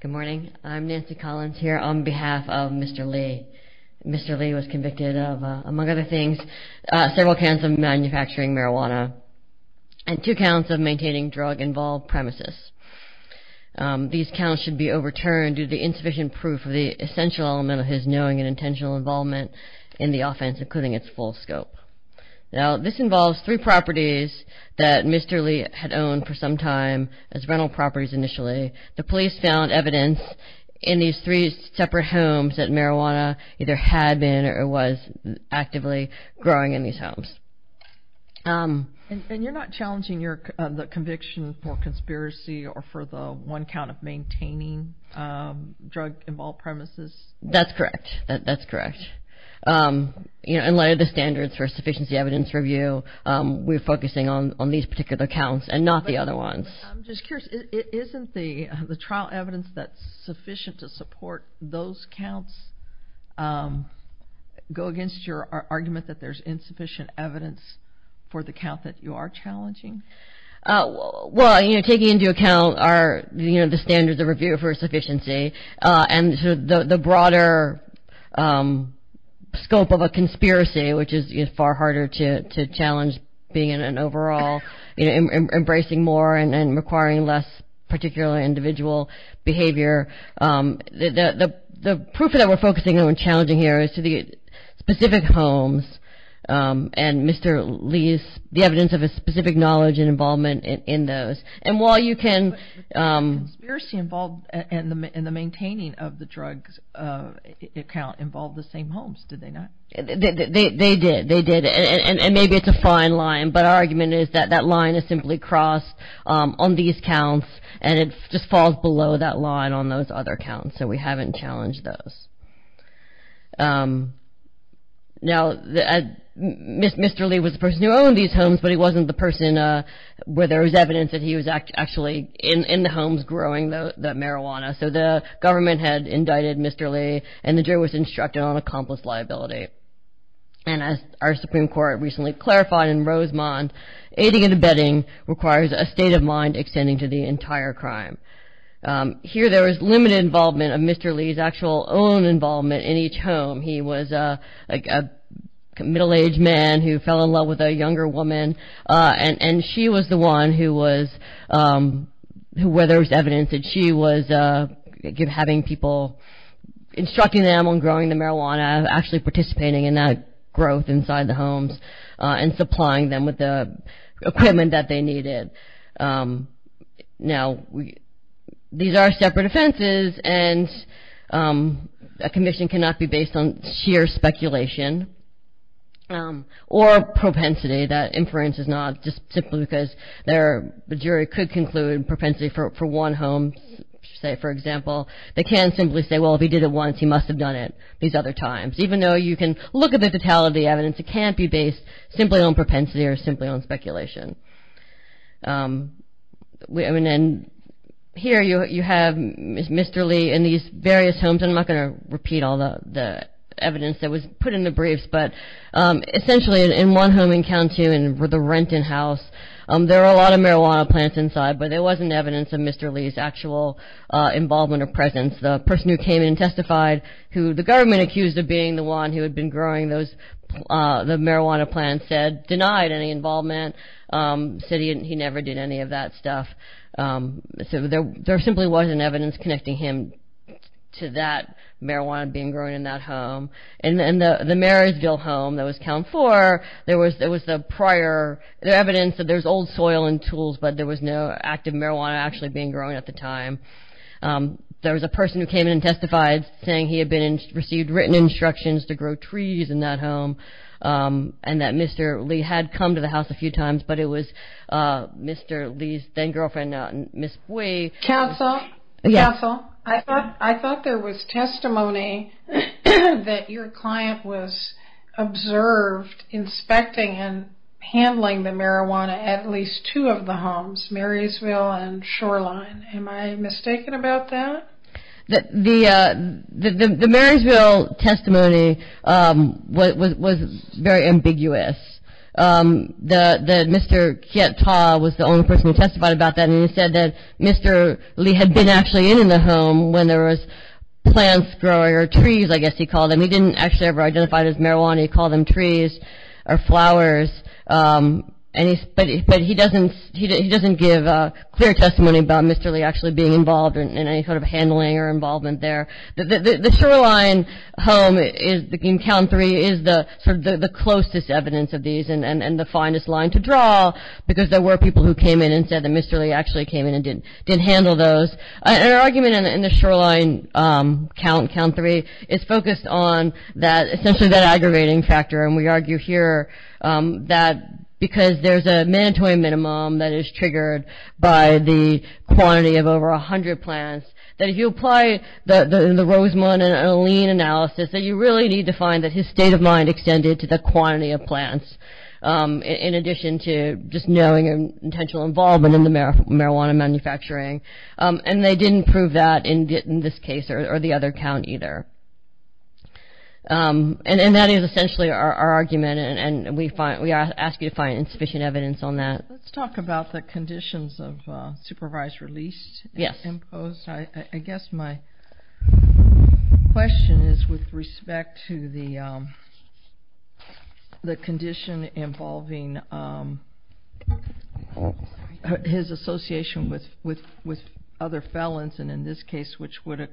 Good morning. I'm Nancy Collins here on behalf of Mr. Lee. Mr. Lee was convicted of, among other things, several counts of manufacturing marijuana and two counts of maintaining drug-involved premises. These counts should be overturned due to the insufficient proof of the essential element of his knowing and intentional involvement in the offense, including its full scope. Now, this involves three properties that Mr. Lee had owned for some time as rental properties initially. The police found evidence in these three separate homes that marijuana either had been or was actively growing in these homes. And you're not challenging the conviction for conspiracy or for the one count of maintaining drug-involved premises? Nancy Collins That's correct. That's correct. In light of the standards for a sufficiency evidence review, we're focusing on these particular counts and not the other ones. I'm just curious, isn't the trial evidence that's sufficient to support those counts go against your argument that there's insufficient evidence for the count that you are challenging? Nancy Collins Well, taking into account the standards of review for sufficiency and the broader scope of a conspiracy, which is far harder to challenge being in an overall, embracing more and requiring less particular individual behavior, the proof that we're focusing on and challenging here is to the specific homes and Mr. Lee's, the evidence of his specific knowledge and involvement in those. And while you can… Katherian Roe But the conspiracy involved in the maintaining of the drugs account involved the same homes, did they not? Nancy Collins They did. They did. And maybe it's a fine line, but our argument is that that line is simply crossed on these counts and it just falls below that line on those other counts, so we haven't challenged those. Now, Mr. Lee was the person who owned these homes, but he wasn't the person where there was evidence that he was actually in the homes growing the marijuana, so the government had indicted Mr. Lee and the jury was instructed on accomplice liability. And as our Supreme Court recently clarified in Rosemont, aiding and abetting requires a state of mind extending to the entire crime. Here there was limited involvement of Mr. Lee's actual own involvement in each home. He was a middle-aged man who fell in love with a younger woman and she was the one who was, where there was evidence that she was having people, instructing them on growing the marijuana, actually participating in that growth inside the homes and supplying them with the equipment that they needed. Now, these are separate offenses and a conviction cannot be based on sheer speculation or propensity. That inference is not just simply because the jury could conclude propensity for one home, say, for example. They can simply say, well, if he did it once, he must have done it these other times. Even though you can look at the totality of the evidence, it can't be based simply on propensity or simply on speculation. And here you have Mr. Lee in these various homes. I'm not going to repeat all the evidence that was put in the briefs, but essentially in one home in Kowntoon, the Renton house, there were a lot of marijuana plants inside, but there wasn't evidence of Mr. Lee's actual involvement or presence. The person who came in and testified, who the government accused of being the one who had been growing those, the marijuana plant said, denied any involvement, said he never did any of that stuff. So there simply wasn't evidence connecting him to that marijuana being grown in that home. In the Marysville home that was Kownton 4, there was the prior evidence that there's old soil and tools, but there was no active marijuana actually being grown at the time. There was a person who came in and testified saying he had received written instructions to grow trees in that home. And that Mr. Lee had come to the house a few times, but it was Mr. Lee's then-girlfriend, Ms. Way. Counsel, I thought there was testimony that your client was observed inspecting and handling the marijuana at least two of the homes, Marysville and Shoreline. Am I mistaken about that? The Marysville testimony was very ambiguous. Mr. Kiat-Taw was the only person who testified about that, and he said that Mr. Lee had been actually in the home when there was plants growing, or trees, I guess he called them. He didn't actually ever identify it as marijuana. He called them trees or flowers. But he doesn't give clear testimony about Mr. Lee actually being involved in any sort of handling or involvement there. The Shoreline home in Kownton 3 is the closest evidence of these and the finest line to draw because there were people who came in and said that Mr. Lee actually came in and did handle those. Our argument in the Shoreline Kownton 3 is focused on essentially that aggravating factor, and we argue here that because there's a mandatory minimum that is triggered by the quantity of over 100 plants, that if you apply the Rosemond and Alene analysis, that you really need to find that his state of mind extended to the quantity of plants in addition to just knowing an intentional involvement in the marijuana manufacturing. And they didn't prove that in this case or the other count either. And that is essentially our argument, and we ask you to find insufficient evidence on that. Let's talk about the conditions of supervised release imposed. I guess my question is with respect to the condition involving his association with other felons, and in this case, which would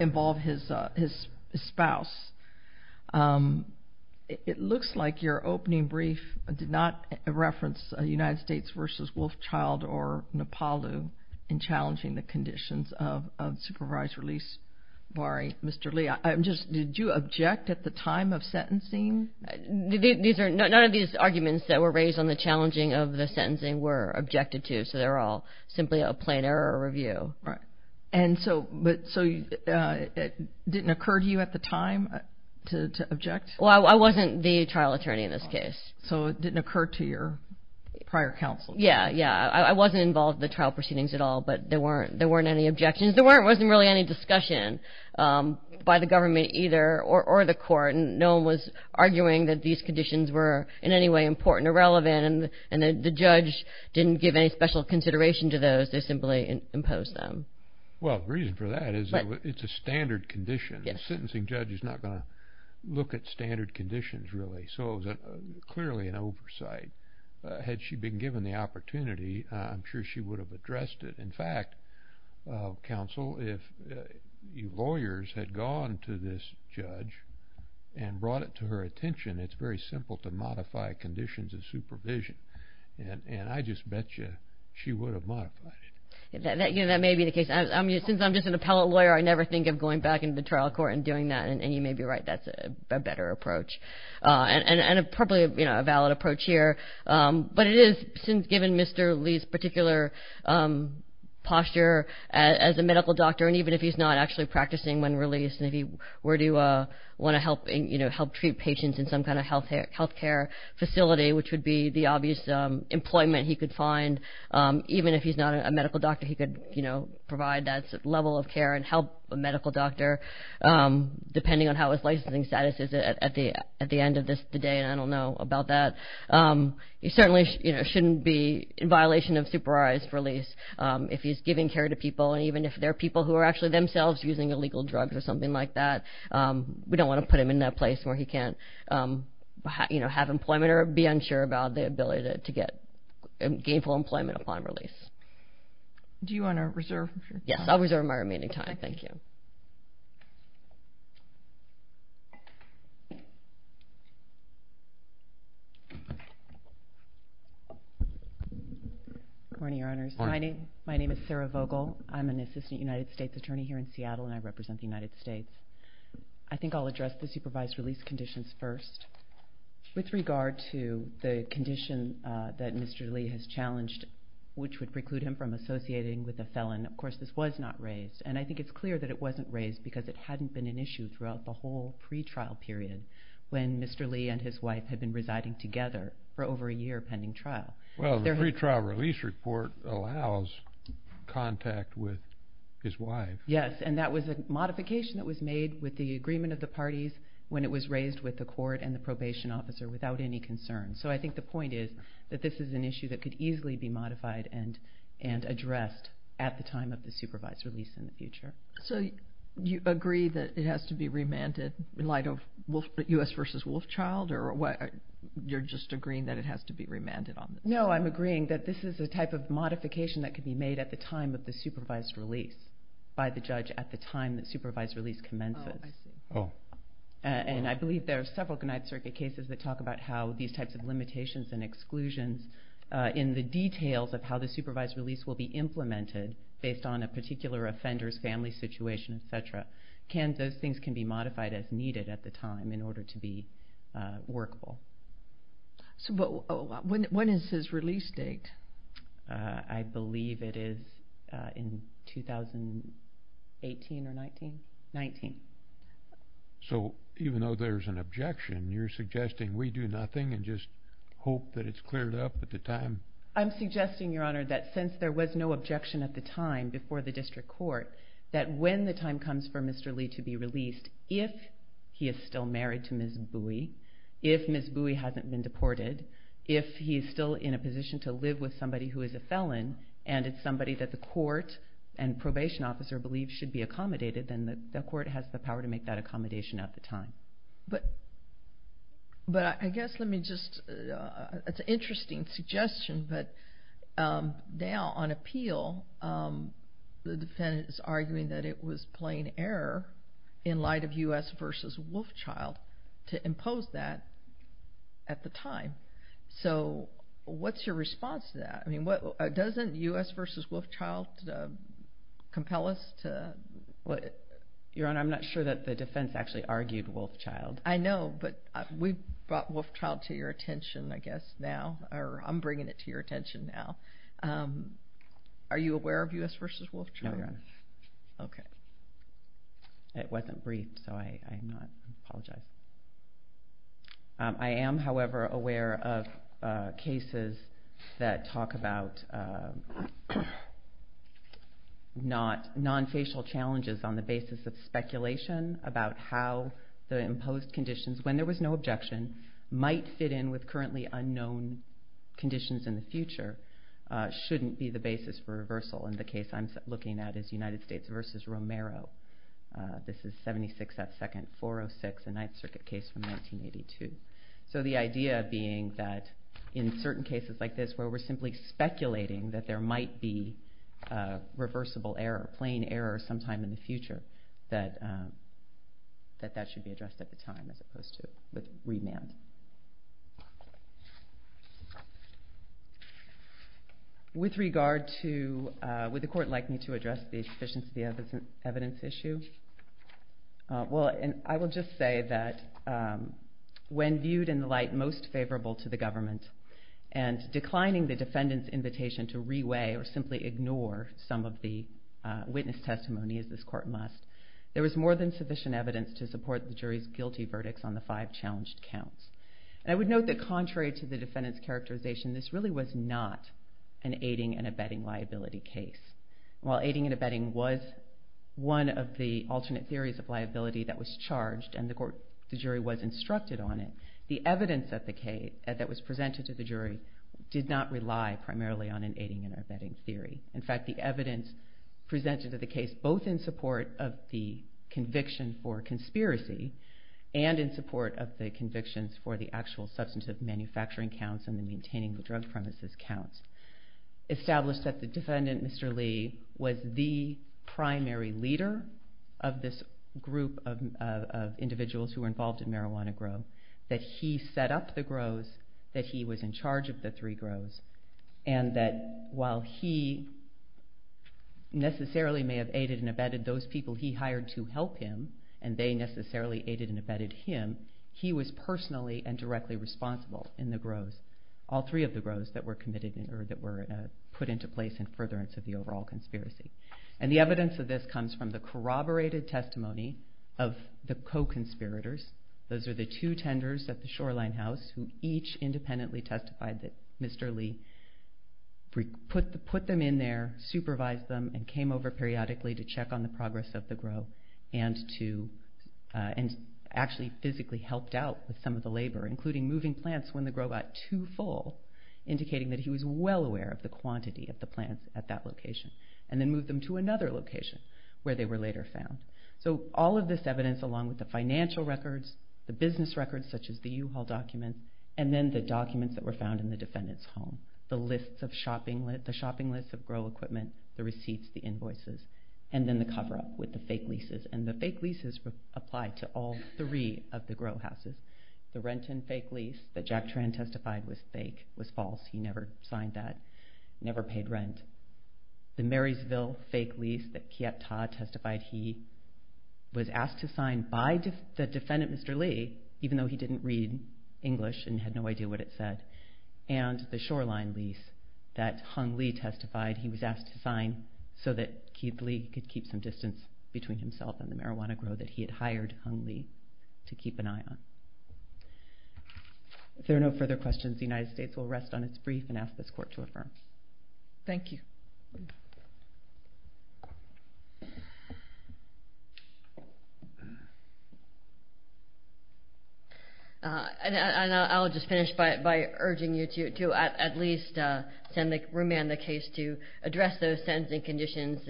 involve his spouse, it looks like your opening brief did not reference United States versus Wolfchild or Napaloo in challenging the conditions of supervised release barring Mr. Lee. Did you object at the time of sentencing? None of these arguments that were raised on the challenging of the sentencing were objected to, so they're all simply a plain error review. And so it didn't occur to you at the time to object? Well, I wasn't the trial attorney in this case. So it didn't occur to your prior counsel? Yeah, I wasn't involved in the trial proceedings at all, but there weren't any objections. There wasn't really any discussion by the government either or the court, and no one was arguing that these conditions were in any way important or relevant, and the judge didn't give any special consideration to those. They simply imposed them. Well, the reason for that is it's a standard condition. A sentencing judge is not going to look at standard conditions really. So it was clearly an oversight. Had she been given the opportunity, I'm sure she would have addressed it. In fact, counsel, if lawyers had gone to this judge and brought it to her attention, it's very simple to modify conditions of supervision, and I just bet you she would have modified it. That may be the case. Since I'm just an appellate lawyer, I never think of going back into the trial court and doing that, and you may be right, that's a better approach and probably a valid approach here. But it is, since given Mr. Lee's particular posture as a medical doctor, and even if he's not actually practicing when released and if he were to want to help treat patients in some kind of health care facility, which would be the obvious employment he could find, even if he's not a medical doctor, he could provide that level of care and help a medical doctor, depending on how his licensing status is at the end of the day, and I don't know about that. He certainly shouldn't be in violation of supervised release if he's giving care to people, and even if they're people who are actually themselves using illegal drugs or something like that, we don't want to put him in that place where he can't have employment or be unsure about the ability to get gainful employment upon release. Do you want to reserve your time? Yes, I'll reserve my remaining time. Thank you. Good morning, Your Honors. Good morning. My name is Sarah Vogel. I'm an assistant United States attorney here in Seattle, and I represent the United States. I think I'll address the supervised release conditions first. With regard to the condition that Mr. Lee has challenged, which would preclude him from associating with a felon, of course this was not raised, and I think it's clear that it wasn't raised because it hadn't been an issue throughout the whole pretrial period when Mr. Lee and his wife had been residing together for over a year pending trial. Well, the pretrial release report allows contact with his wife. Yes, and that was a modification that was made with the agreement of the parties when it was raised with the court and the probation officer without any concern. So I think the point is that this is an issue that could easily be modified and addressed at the time of the supervised release in the future. So you agree that it has to be remanded in light of U.S. v. Wolfchild, or you're just agreeing that it has to be remanded on this? No, I'm agreeing that this is a type of modification that could be made at the time of the supervised release by the judge at the time that supervised release commences. Oh, I see. And I believe there are several United States cases that talk about how these types of limitations and exclusions in the details of how the supervised release will be implemented based on a particular offender's family situation, et cetera. Those things can be modified as needed at the time in order to be workable. So when is his release date? I believe it is in 2018 or 19. So even though there's an objection, you're suggesting we do nothing and just hope that it's cleared up at the time? I'm suggesting, Your Honor, that since there was no objection at the time before the district court, that when the time comes for Mr. Lee to be released, if he is still married to Ms. Bowie, if Ms. Bowie hasn't been deported, if he is still in a position to live with somebody who is a felon and it's somebody that the court and probation officer believe should be accommodated, then the court has the power to make that accommodation at the time. But I guess let me just, it's an interesting suggestion, but now on appeal the defendant is arguing that it was plain error in light of U.S. v. Wolfchild to impose that at the time. So what's your response to that? Doesn't U.S. v. Wolfchild compel us to? Your Honor, I'm not sure that the defense actually argued Wolfchild. I know, but we brought Wolfchild to your attention, I guess, now, or I'm bringing it to your attention now. Are you aware of U.S. v. Wolfchild? No, Your Honor. Okay. It wasn't briefed, so I apologize. I am, however, aware of cases that talk about non-facial challenges on the basis of speculation about how the imposed conditions, when there was no objection, might fit in with currently unknown conditions in the future, shouldn't be the basis for reversal. And the case I'm looking at is United States v. Romero. This is 76th at 2nd, 406th, a Ninth Circuit case from 1982. So the idea being that in certain cases like this where we're simply speculating that there might be reversible error, plain error sometime in the future, that that should be addressed at the time as opposed to with remand. With regard to would the court like me to address the sufficiency of the evidence issue? Well, I will just say that when viewed in the light most favorable to the government and declining the defendant's invitation to re-weigh or simply ignore some of the witness testimony, as this court must, there was more than sufficient evidence to support the jury's guilty verdicts on the five challenged counts. And I would note that contrary to the defendant's characterization, this really was not an aiding and abetting liability case. While aiding and abetting was one of the alternate theories of liability that was charged and the jury was instructed on it, the evidence that was presented to the jury did not rely primarily on an aiding and abetting theory. In fact, the evidence presented to the case, both in support of the conviction for conspiracy and in support of the convictions for the actual substantive manufacturing counts and the maintaining the drug premises counts, established that the defendant, Mr. Lee, was the primary leader of this group of individuals who were involved in marijuana growth, that he set up the grows, that he was in charge of the three grows, and that while he necessarily may have aided and abetted those people he hired to help him and they necessarily aided and abetted him, he was personally and directly responsible in the grows, all three of the grows that were put into place in furtherance of the overall conspiracy. And the evidence of this comes from the corroborated testimony of the co-conspirators. Those are the two tenders at the Shoreline House who each independently testified that Mr. Lee put them in there, supervised them, and came over periodically to check on the progress of the grow and actually physically helped out with some of the labor, including moving plants when the grow got too full, indicating that he was well aware of the quantity of the plants at that location, and then moved them to another location where they were later found. So all of this evidence, along with the financial records, the business records, such as the U-Haul documents, and then the documents that were found in the defendant's home, the shopping lists of grow equipment, the receipts, the invoices, and then the cover-up with the fake leases. And the fake leases applied to all three of the grow houses. The Renton fake lease that Jack Tran testified was fake, was false. He never signed that, never paid rent. The Marysville fake lease that Kiat-Tah testified he was asked to sign by the defendant, Mr. Lee, even though he didn't read English and had no idea what it said. And the Shoreline lease that Hung Lee testified he was asked to sign so that Lee could keep some distance between himself and the marijuana grow that he had hired Hung Lee to keep an eye on. If there are no further questions, the United States will rest on its brief and ask this court to affirm. Thank you. And I'll just finish by urging you to at least remand the case to address those sentencing conditions.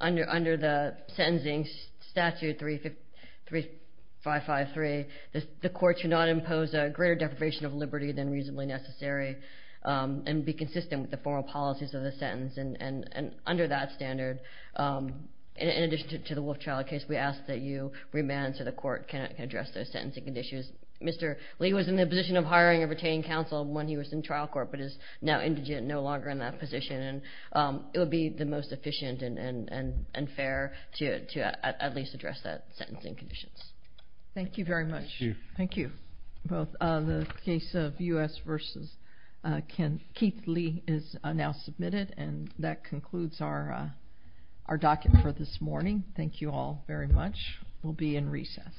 Under the Sentencing Statute 3553, the court should not impose a greater deprivation of liberty than reasonably necessary and be consistent with the formal policies of the sentence. And under that standard, in addition to the Wolf Child case, we ask that you remand so the court can address those sentencing conditions. Mr. Lee was in the position of hiring a retaining counsel when he was in trial court but is now indigent, no longer in that position. And it would be the most efficient and fair to at least address that sentencing conditions. Thank you very much. Thank you. The case of U.S. v. Keith Lee is now submitted. And that concludes our docket for this morning. Thank you all very much. We'll be in recess.